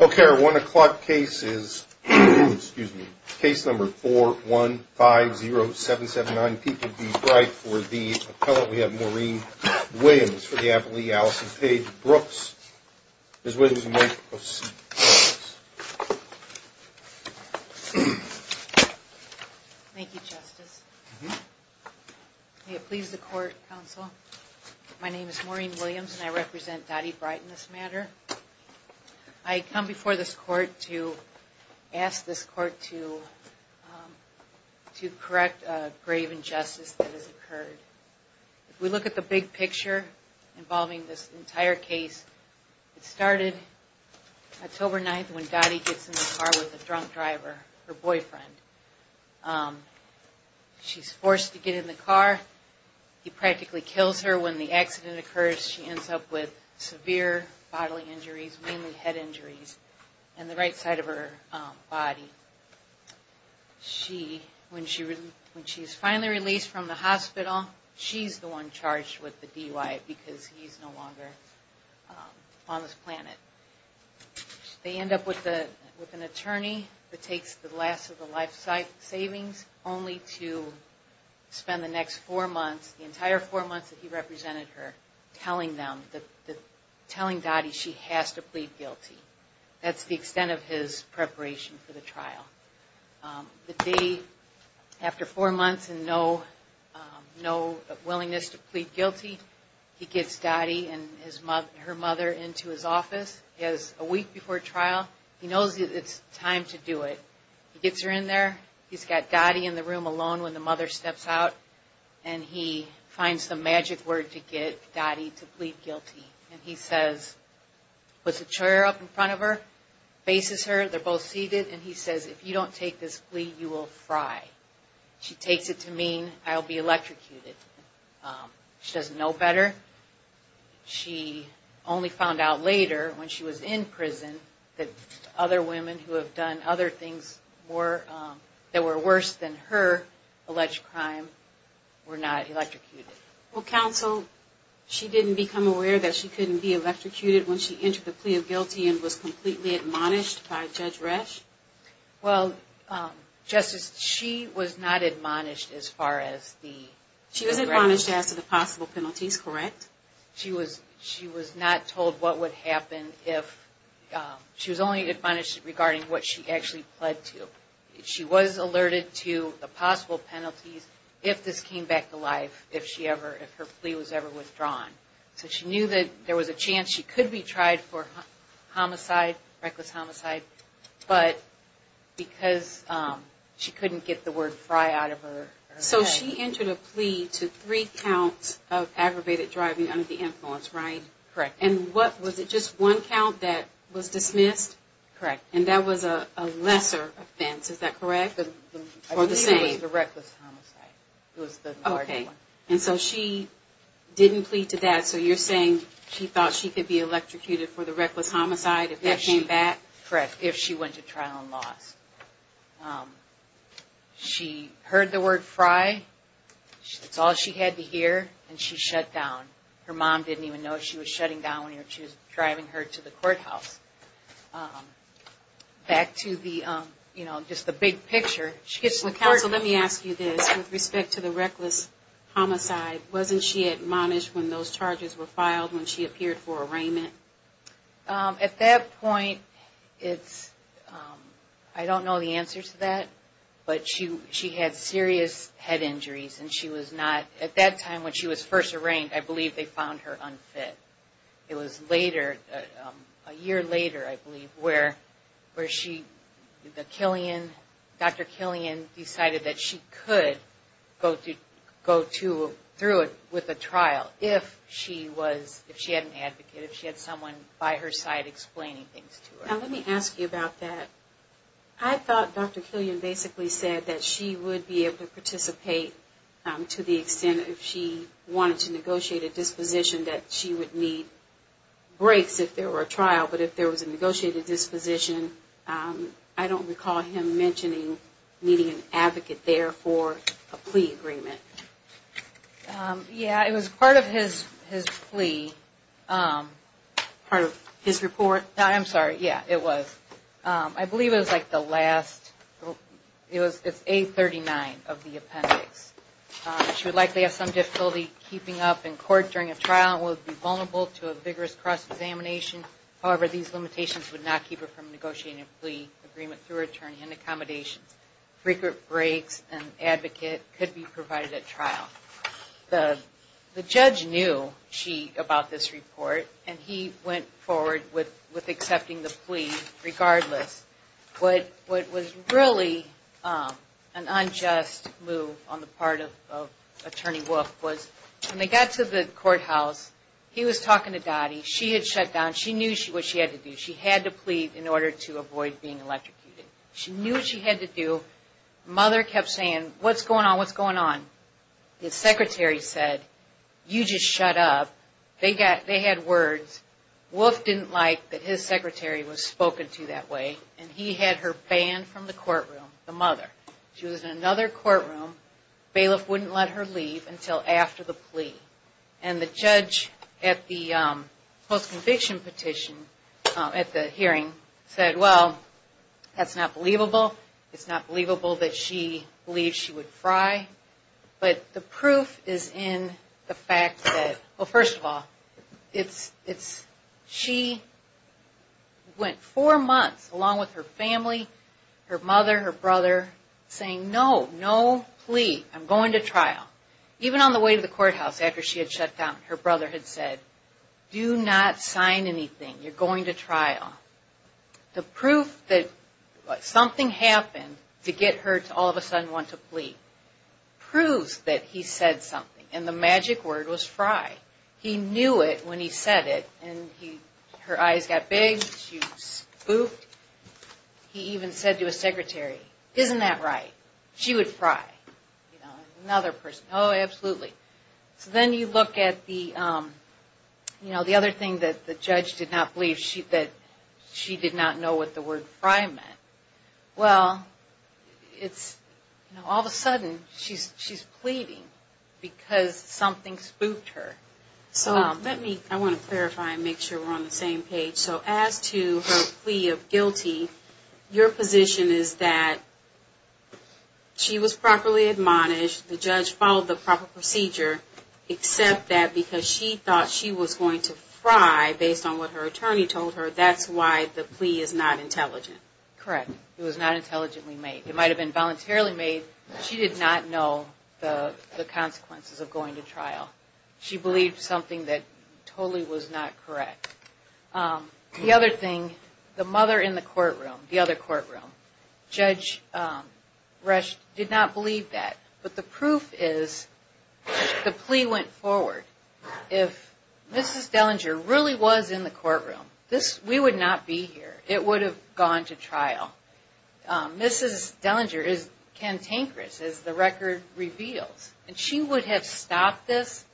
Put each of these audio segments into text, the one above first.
Okay, our one o'clock case is, excuse me, case number 4150779 P. P. B. Bright for the appellate. We have Maureen Williams for the appellate. Alison Paige Brooks is with us. Thank you, Justice. May it please the court, counsel. My name is Maureen Williams and I represent Dottie Bright in this matter. I come before this court to ask this court to correct a grave injustice that has occurred. If we look at the big picture involving this entire case, it started October 9th when Dottie gets in the car with a drunk driver, her boyfriend. She's forced to get in the car. He practically kills her when the accident occurs. She ends up with severe bodily injuries, mainly head injuries, in the right side of her body. She, when she's finally released from the hospital, she's the one charged with the DUI because he's no longer on this planet. They end up with an attorney that takes the last of the life savings only to spend the next four months, the entire four months that he represented her, telling them, telling Dottie she has to plead guilty. That's the extent of his preparation for the trial. The day after four months and no willingness to plead guilty, he gets Dottie and her mother into his office. He has a week before trial. He knows it's time to do it. He gets her in there. He's got Dottie in the room alone when the mother steps out and he finds the magic word to get Dottie to plead guilty. And he says, puts a chair up in front of her, faces her, they're both seated, and he says, if you don't take this plea, you will fry. She takes it to mean I'll be electrocuted. She doesn't know better. She only found out later when she was in prison that other women who have done other things that were worse than her alleged crime were not electrocuted. Well, counsel, she didn't become aware that she couldn't be electrocuted when she entered the plea of guilty and was completely admonished by Judge Resch? Well, Justice, she was not admonished as far as the... She was admonished as to the possible penalties, correct? She was not told what would happen if... She was only admonished regarding what she actually pled to. She was alerted to the possible penalties if this came back to life, if her plea was ever withdrawn. So she knew that there was a chance she could be tried for homicide, reckless homicide, but because she couldn't get the word fry out of her head... Correct. And what, was it just one count that was dismissed? Correct. And that was a lesser offense, is that correct? I believe it was the reckless homicide. Okay. It was the larger one. And so she didn't plead to that, so you're saying she thought she could be electrocuted for the reckless homicide if that came back? Correct. If she went to trial and lost. She heard the word fry, that's all she had to hear, and she shut down. Her mom didn't even know she was shutting down when she was driving her to the courthouse. Back to the, you know, just the big picture. Counsel, let me ask you this. With respect to the reckless homicide, wasn't she admonished when those charges were filed, when she appeared for arraignment? At that point, it's, I don't know the answer to that, but she had serious head injuries and she was not, at that time when she was first arraigned, I believe they found her unfit. It was later, a year later, I believe, where she, the Killian, Dr. Killian decided that she could go through it with a trial if she was, if she had an advocate, if she had someone by her side explaining things to her. Now let me ask you about that. I thought Dr. Killian basically said that she would be able to participate to the extent if she wanted to negotiate a disposition that she would need breaks if there were a trial, but if there was a negotiated disposition, I don't recall him mentioning needing an advocate there for a plea agreement. Yeah, it was part of his plea. Part of his report? I'm sorry, yeah, it was. I believe it was like the last, it's 839 of the appendix. She would likely have some difficulty keeping up in court during a trial and would be vulnerable to a vigorous cross-examination. However, these limitations would not keep her from negotiating a plea agreement through her attorney and accommodations. Frequent breaks and advocate could be provided at trial. The judge knew, she, about this report and he went forward with accepting the plea regardless. What was really an unjust move on the part of Attorney Wolf was when they got to the courthouse, he was talking to Dottie, she had shut down, she knew what she had to do. She had to plead in order to avoid being electrocuted. She knew what she had to do. Mother kept saying, what's going on, what's going on? His secretary said, you just shut up. They had words. Wolf didn't like that his secretary was spoken to that way and he had her banned from the courtroom, the mother. She was in another courtroom. Bailiff wouldn't let her leave until after the plea. And the judge at the post-conviction petition at the hearing said, well, that's not believable. It's not believable that she believes she would fry. But the proof is in the fact that, well, first of all, she went four months along with her family, her mother, her brother, saying, no, no plea. I'm going to trial. Even on the way to the courthouse after she had shut down, her brother had said, do not sign anything. You're going to trial. The proof that something happened to get her to all of a sudden want to plead proves that he said something. And the magic word was fry. He knew it when he said it and her eyes got big. She spooked. He even said to his secretary, isn't that right? She would fry. Another person, oh, absolutely. So then you look at the other thing that the judge did not believe, that she did not know what the word fry meant. Well, it's all of a sudden she's pleading because something spooked her. So let me, I want to clarify and make sure we're on the same page. So as to her plea of guilty, your position is that she was properly admonished, the judge followed the proper procedure, except that because she thought she was going to fry based on what her attorney told her, that's why the plea is not intelligent. Correct. It was not intelligently made. It might have been voluntarily made. She did not know the consequences of going to trial. She believed something that totally was not correct. The other thing, the mother in the courtroom, the other courtroom, Judge Resch did not believe that. But the proof is the plea went forward. If Mrs. Dellinger really was in the courtroom, we would not be here. It would have gone to trial. Mrs. Dellinger is cantankerous, as the record reveals. And she would have stopped this,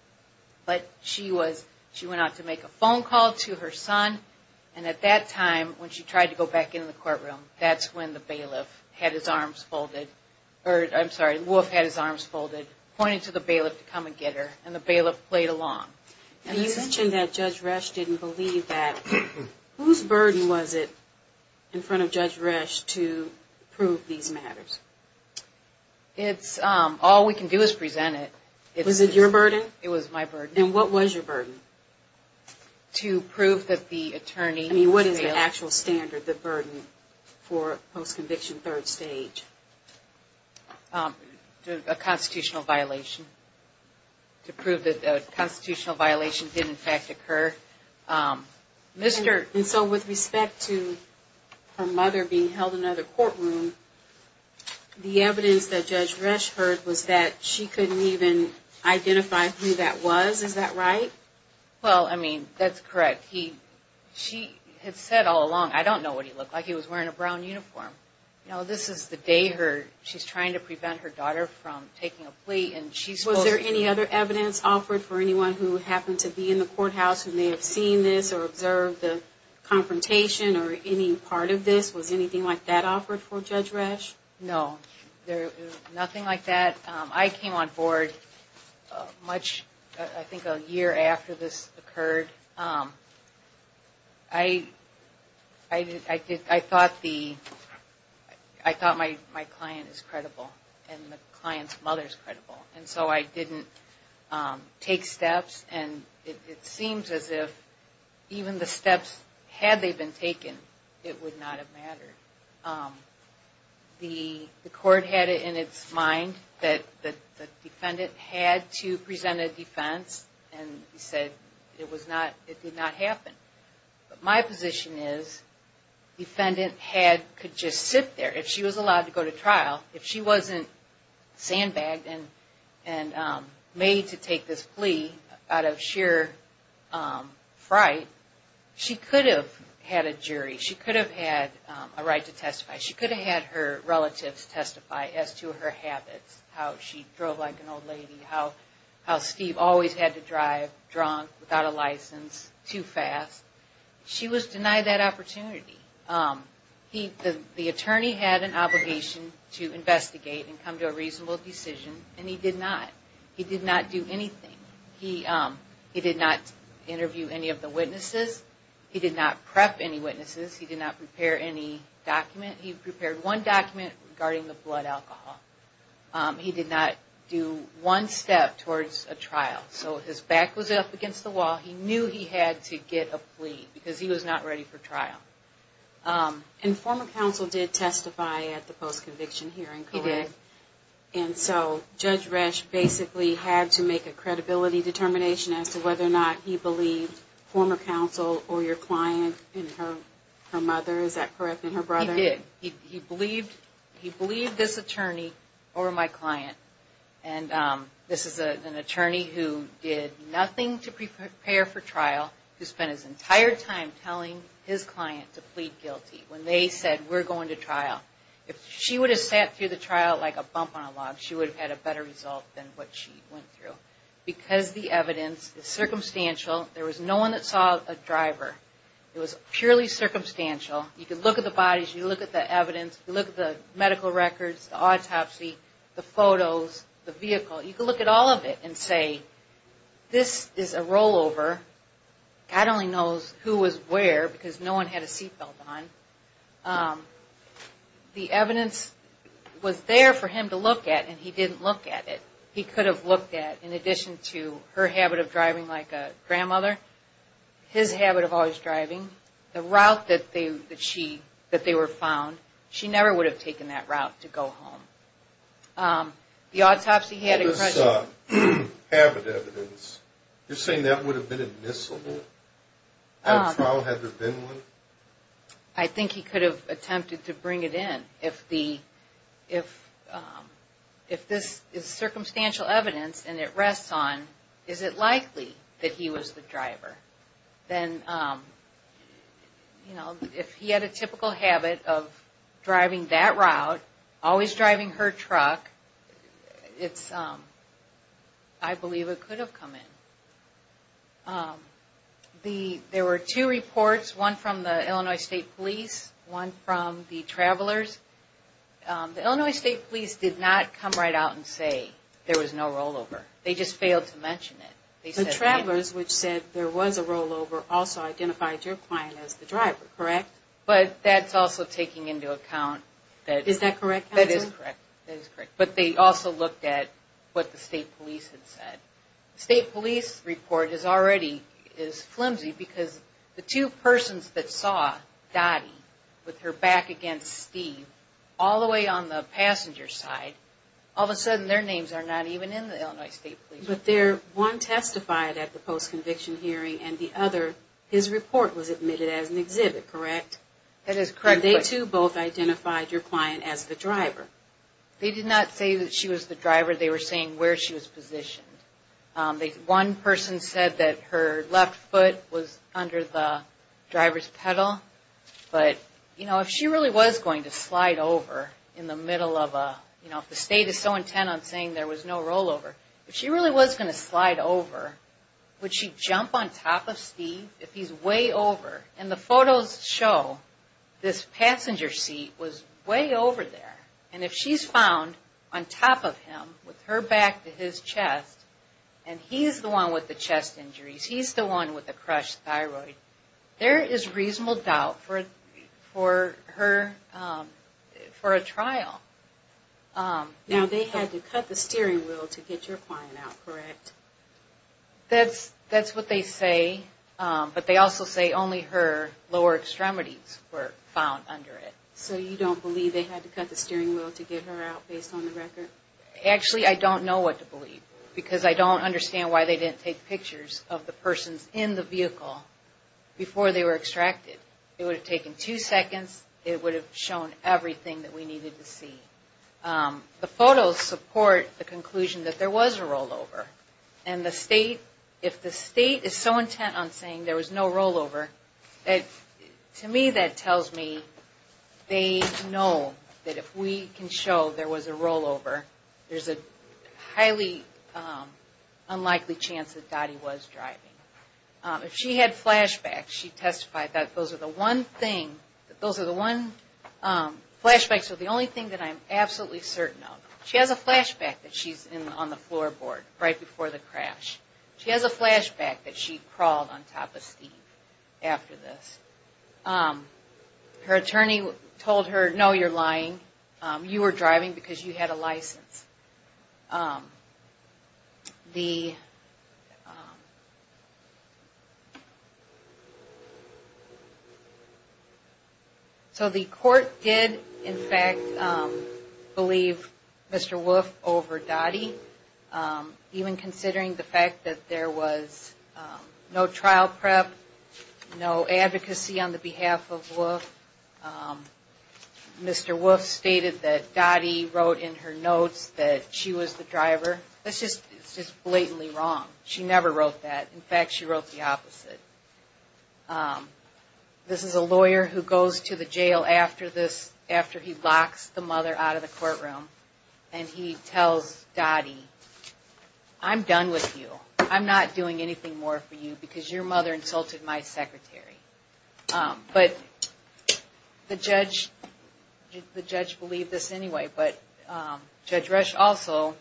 but she was, she went out to make a phone call to her son, and at that time, when she tried to go back into the courtroom, that's when the bailiff had his arms folded, or I'm sorry, the wolf had his arms folded, pointing to the bailiff to come and get her, and the bailiff played along. And you mentioned that Judge Resch didn't believe that. Whose burden was it in front of Judge Resch to prove these matters? It's, all we can do is present it. Was it your burden? It was my burden. And what was your burden? To prove that the attorney failed. I mean, what is the actual standard, the burden, for post-conviction third stage? A constitutional violation. To prove that a constitutional violation did, in fact, occur. And so, with respect to her mother being held in another courtroom, the evidence that Judge Resch heard was that she couldn't even identify who that was, is that right? Well, I mean, that's correct. He, she had said all along, I don't know what he looked like. He was wearing a brown uniform. You know, this is the day her, she's trying to prevent her daughter from taking a plea, and she's supposed to be Was there any other evidence offered for anyone who happened to be in the courthouse who may have seen this, or observed the confrontation, or any part of this? Was anything like that offered for Judge Resch? No, there was nothing like that. I came on board much, I think a year after this occurred. I, I did, I thought the, I thought my client is credible, and the client's mother is credible. And so I didn't take steps, and it seems as if even the steps, had they been taken, it would not have mattered. The, the court had it in its mind that the defendant had to present a defense, and he said it was not, it did not happen. But my position is, defendant had, could just sit there. If she was allowed to go to trial, if she wasn't sandbagged and, and made to take this plea out of sheer fright, she could have had a jury, she could have had a right to testify, she could have had her relatives testify as to her habits, how she drove like an old lady, how, how Steve always had to drive drunk, without a license, too fast. She was denied that opportunity. He, the attorney had an obligation to investigate and come to a reasonable decision, and he did not. He did not do anything. He, he did not interview any of the witnesses. He did not prep any witnesses. He did not prepare any document. He prepared one document regarding the blood alcohol. He did not do one step towards a trial. So his back was up against the wall. He knew he had to get a plea, because he was not ready for trial. And former counsel did testify at the post-conviction hearing, correct? He did. And so Judge Resch basically had to make a credibility determination as to whether or not he believed former counsel or your client in her, her mother, is that correct, in her brother? He did. He, he believed, he believed this attorney or my client. And this is an attorney who did nothing to prepare for trial, who spent his entire time telling his client to plead guilty when they said, we're going to trial. If she would have sat through the trial like a bump on a log, she would have had a better result than what she went through. Because the evidence is circumstantial, there was no one that saw a driver. It was purely circumstantial. You could look at the bodies, you look at the evidence, you look at the medical records, the autopsy, the photos, the vehicle, you could look at all of it and say, this is a rollover. God only knows who was where, because no one had a seatbelt on. The evidence was there for him to look at, and he didn't look at it. He could have looked at, in addition to her habit of driving like a grandmother, his habit of always driving. The route that they, that she, that they were found, she never would have taken that route to go home. The autopsy had... What about this habit evidence? You're saying that would have been admissible? Had a trial, had there been one? I think he could have attempted to bring it in. If the, if, if this is circumstantial evidence and it rests on, is it likely that he was the driver? Then, you know, if he had a typical habit of driving that route, always driving her truck, it's, I believe it could have come in. The, there were two reports, one from the Illinois State Police, one from the travelers. The Illinois State Police did not come right out and say there was no rollover. They just failed to mention it. The travelers, which said there was a rollover, also identified your client as the driver, correct? But that's also taking into account that... Is that correct, counselor? That is correct, that is correct. But they also looked at what the state police had said. The state police report is already, is flimsy because the two persons that saw Dottie with her back against Steve, all the way on the passenger side, all of a sudden their names are not even in the Illinois State Police. But their, one testified at the post-conviction hearing and the other, his report was admitted as an exhibit, correct? That is correct. And they too both identified your client as the driver? They did not say that she was the driver. They were saying where she was positioned. One person said that her left foot was under the driver's pedal. But, you know, if she really was going to slide over in the middle of a, you know, if the state is so intent on saying there was no rollover, if she really was going to slide over, would she jump on top of Steve if he's way over? And the photos show this passenger seat was way over there. And if she's found on top of him with her back to his chest, and he's the one with the chest injuries, he's the one with the crushed thyroid, there is reasonable doubt for her, for a trial. Now they had to cut the steering wheel to get your client out, correct? That's what they say. But they also say only her lower extremities were found under it. So you don't believe they had to cut the steering wheel to get her out based on the record? Actually, I don't know what to believe, because I don't understand why they didn't take pictures of the persons in the vehicle before they were extracted. It would have taken two seconds. It would have shown everything that we needed to see. The photos support the conclusion that there was a rollover. And the state, if the state is so intent on saying there was no rollover, to me that tells me they know that if we can show there was a rollover, there's a highly unlikely chance that Dottie was driving. If she had flashbacks, she testified that those are the one thing, flashbacks are the only thing that I'm absolutely certain of. She has a flashback that she's on the floorboard right before the crash. She has a flashback that she crawled on top of Steve after this. Her attorney told her, no, you're lying. You were driving because you had a license. So the court did, in fact, believe Mr. Wolfe over Dottie, even considering the fact that there was no trial prep, no advocacy on the behalf of Wolfe. Mr. Wolfe stated that Dottie wrote in her notes that she was the driver. That's just blatantly wrong. She never wrote that. In fact, she wrote the opposite. This is a lawyer who goes to the jail after he locks the mother out of the courtroom, and he tells Dottie, I'm done with you. I'm not doing anything more for you because your mother insulted my secretary. But the judge believed this anyway, but Judge Resch also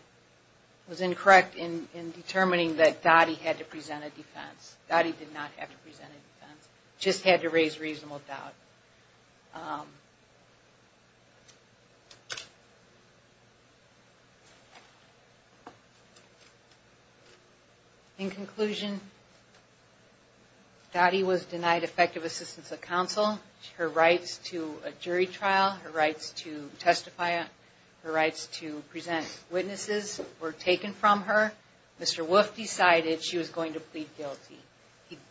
was incorrect in determining that Dottie had to present a defense. Dottie did not have to present a defense, just had to raise reasonable doubt. In conclusion, Dottie was denied effective assistance of counsel. Her rights to a jury trial, her rights to testify, her rights to present witnesses were taken from her. Mr. Wolfe decided she was going to plead guilty.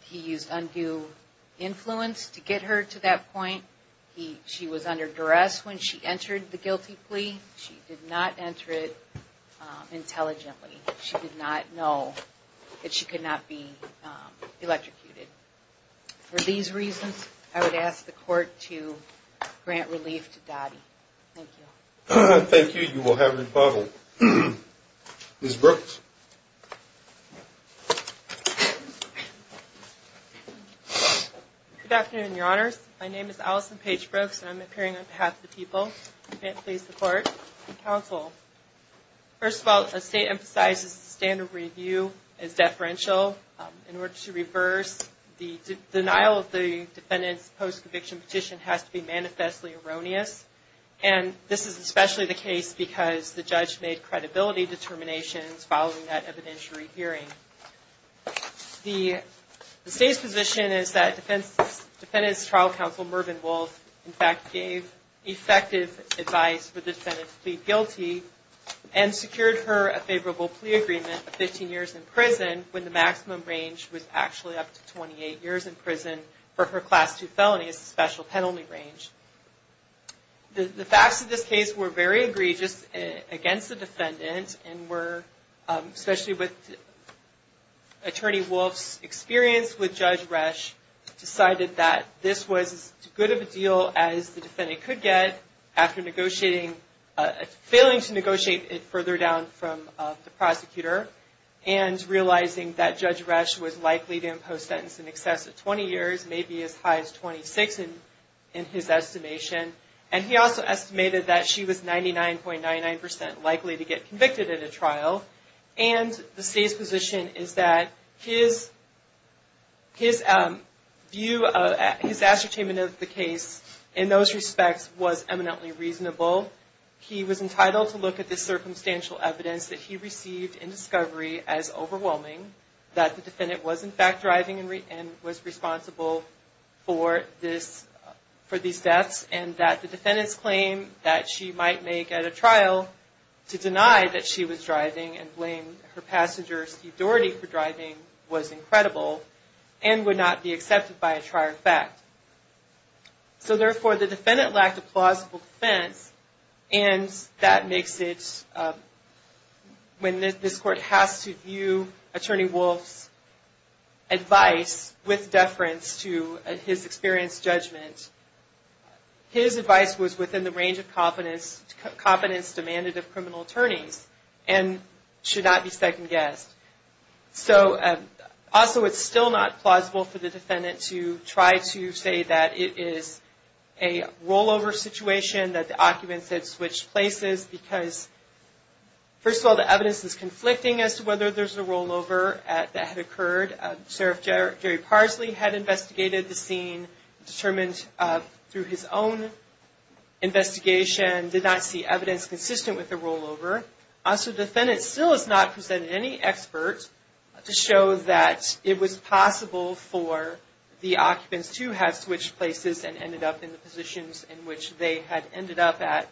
He used undue influence to get her to that point. She was under duress when she entered the guilty plea. She did not enter it intelligently. She did not know that she could not be electrocuted. For these reasons, I would ask the court to grant relief to Dottie. Thank you. Thank you. You will have rebuttal. Ms. Brooks. Good afternoon, Your Honors. My name is Allison Paige Brooks, and I'm appearing on behalf of the people. May it please the court and counsel. First of all, as the state emphasizes, the standard review is deferential. In order to reverse the denial of the defendant's post-conviction petition has to be manifestly erroneous. And this is especially the case because the judge made credibility determinations following that evidentiary hearing. The state's position is that Defendant's Trial Counsel, Mervyn Wolfe, in fact gave effective advice for the defendant to plead guilty and secured her a favorable plea agreement of 15 years in prison when the maximum range was actually up to 28 years in prison for her Class II felony. It's a special penalty range. The facts of this case were very egregious against the defendant, and especially with Attorney Wolfe's experience with Judge Resch, decided that this was as good of a deal as the defendant could get after failing to negotiate it further down from the prosecutor and realizing that Judge Resch was likely to impose sentence in excess of 20 years, maybe as high as 26 in his estimation. And he also estimated that she was 99.99% likely to get convicted at a trial. And the state's position is that his view, his ascertainment of the case in those respects was eminently reasonable. He was entitled to look at the circumstantial evidence that he received in discovery as overwhelming, that the defendant was in fact driving and was responsible for these deaths, and that the defendant's claim that she might make at a trial to deny that she was driving and blame her passenger, Steve Doherty, for driving was incredible and would not be accepted by a trial in fact. So therefore, the defendant lacked a plausible defense, and that makes it, when this court has to view Attorney Wolfe's advice with deference to his experienced judgment, his advice was within the range of competence demanded of criminal attorneys, and should not be second-guessed. So also it's still not plausible for the defendant to try to say that it is a rollover situation, that the occupants had switched places because, first of all, the evidence is conflicting as to whether there's a rollover that had occurred. Sheriff Jerry Parsley had investigated the scene, determined through his own investigation, did not see evidence consistent with the rollover. So the defendant still has not presented any experts to show that it was possible for the occupants to have switched places and ended up in the positions in which they had ended up at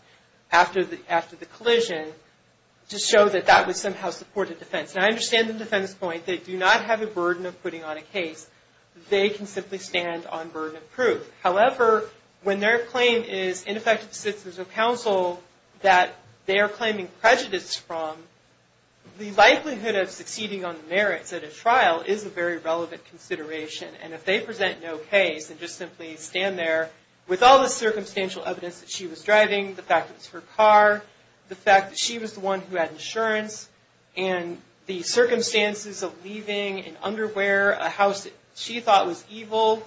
after the collision to show that that would somehow support a defense. And I understand the defendant's point. They do not have a burden of putting on a case. They can simply stand on burden of proof. However, when their claim is ineffective decisions of counsel that they are claiming prejudice from, the likelihood of succeeding on the merits at a trial is a very relevant consideration. And if they present no case and just simply stand there with all the circumstantial evidence that she was driving, the fact that it was her car, the fact that she was the one who had insurance, and the circumstances of leaving, an underwear, a house that she thought was evil,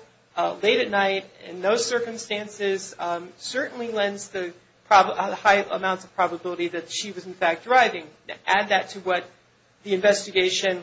late at night, and those circumstances certainly lends the high amounts of probability that she was, in fact, driving. To add that to what the investigation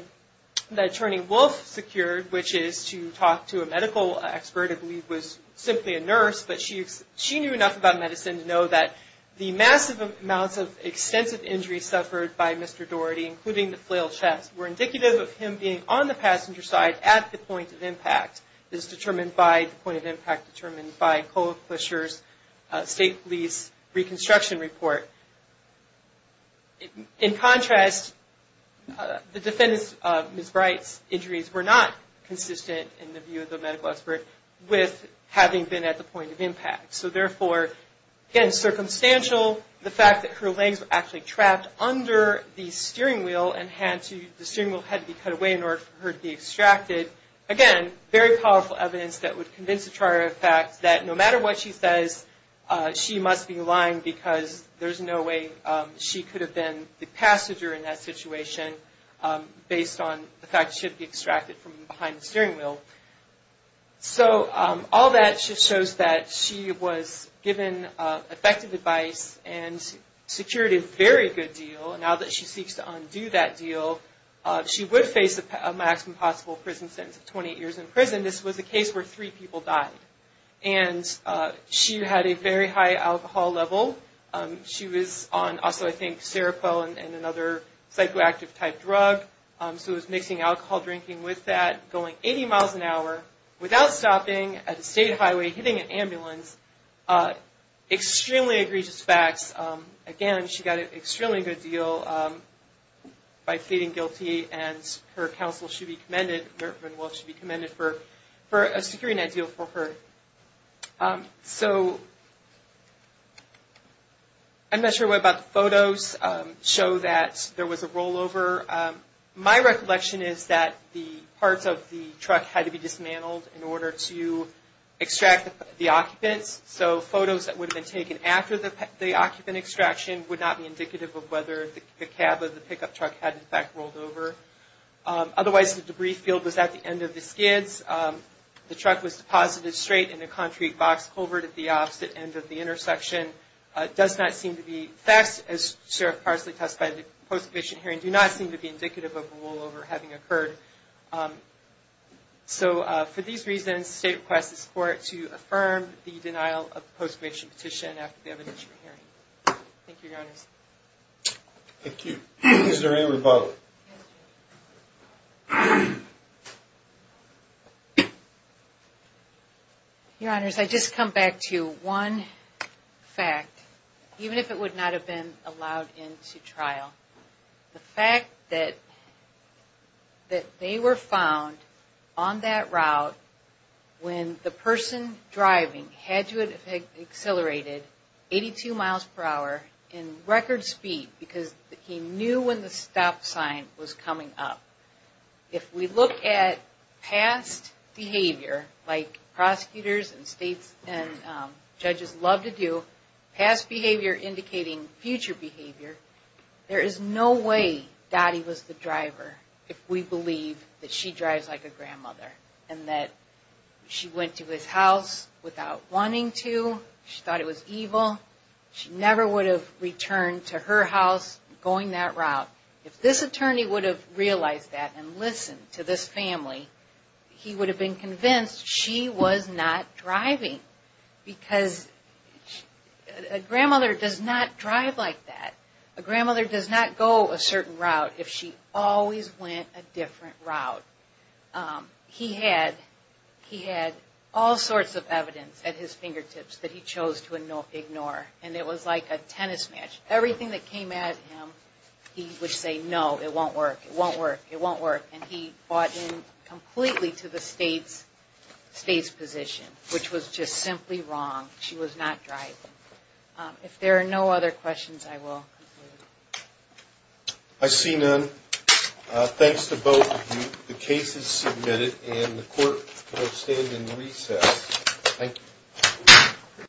that Attorney Wolf secured, which is to talk to a medical expert, I believe was simply a nurse, but she knew enough about medicine to know that the massive amounts of extensive injuries suffered by Mr. Daugherty, including the flail chest, were indicative of him being on the passenger side at the point of impact. This is determined by the point of impact determined by Colquister's state police reconstruction report. In contrast, the defendant's, Ms. Bright's, injuries were not consistent, in the view of the medical expert, with having been at the point of impact. So, therefore, again, circumstantial, the fact that her legs were actually trapped under the steering wheel and the steering wheel had to be cut away in order for her to be extracted, again, very powerful evidence that would convince the charge of fact that no matter what she says, she must be lying because there's no way she could have been the passenger in that situation, based on the fact that she had been extracted from behind the steering wheel. So, all that just shows that she was given effective advice and secured a very good deal. Now that she seeks to undo that deal, she would face a maximum possible prison sentence of 28 years in prison. This was a case where three people died, and she had a very high alcohol level. She was on, also, I think, Seroquel and another psychoactive-type drug, so it was mixing alcohol, drinking with that, going 80 miles an hour, without stopping, at a state highway, hitting an ambulance, extremely egregious facts. Again, she got an extremely good deal by pleading guilty, and her counsel should be commended, should be commended for securing that deal for her. So, I'm not sure what about the photos show that there was a rollover. My recollection is that the parts of the truck had to be dismantled in order to extract the occupants, so photos that would have been taken after the occupant extraction would not be indicative of whether the cab of the pickup truck had, in fact, rolled over. Otherwise, the debris field was at the end of the skids. The truck was deposited straight in a concrete box culvert at the opposite end of the intersection. It does not seem to be facts, as Sheriff Parsley testified at the post-commission hearing, do not seem to be indicative of a rollover having occurred. So, for these reasons, the state requests the court to affirm the denial of the post-commission petition after the evidence from hearing. Thank you, Your Honors. Thank you. Is there any rebuttal? Your Honors, I just come back to one fact, even if it would not have been allowed into trial. The fact that they were found on that route when the person driving had to have accelerated 82 miles per hour in record speed because he knew when the stop sign was coming up. If we look at past behavior, like prosecutors and judges love to do, past behavior indicating future behavior, there is no way Dottie was the driver if we believe that she drives like a grandmother and that she went to his house without wanting to. She thought it was evil. She never would have returned to her house going that route. If this attorney would have realized that and listened to this family, he would have been convinced she was not driving because a grandmother does not drive like that. A grandmother does not go a certain route if she always went a different route. He had all sorts of evidence at his fingertips that he chose to ignore, and it was like a tennis match. Everything that came at him, he would say, no, it won't work, it won't work, it won't work, and he bought in completely to the state's position, which was just simply wrong. She was not driving. If there are no other questions, I will conclude. I see none. Thanks to both of you. The case is submitted, and the court will stand in recess. Thank you.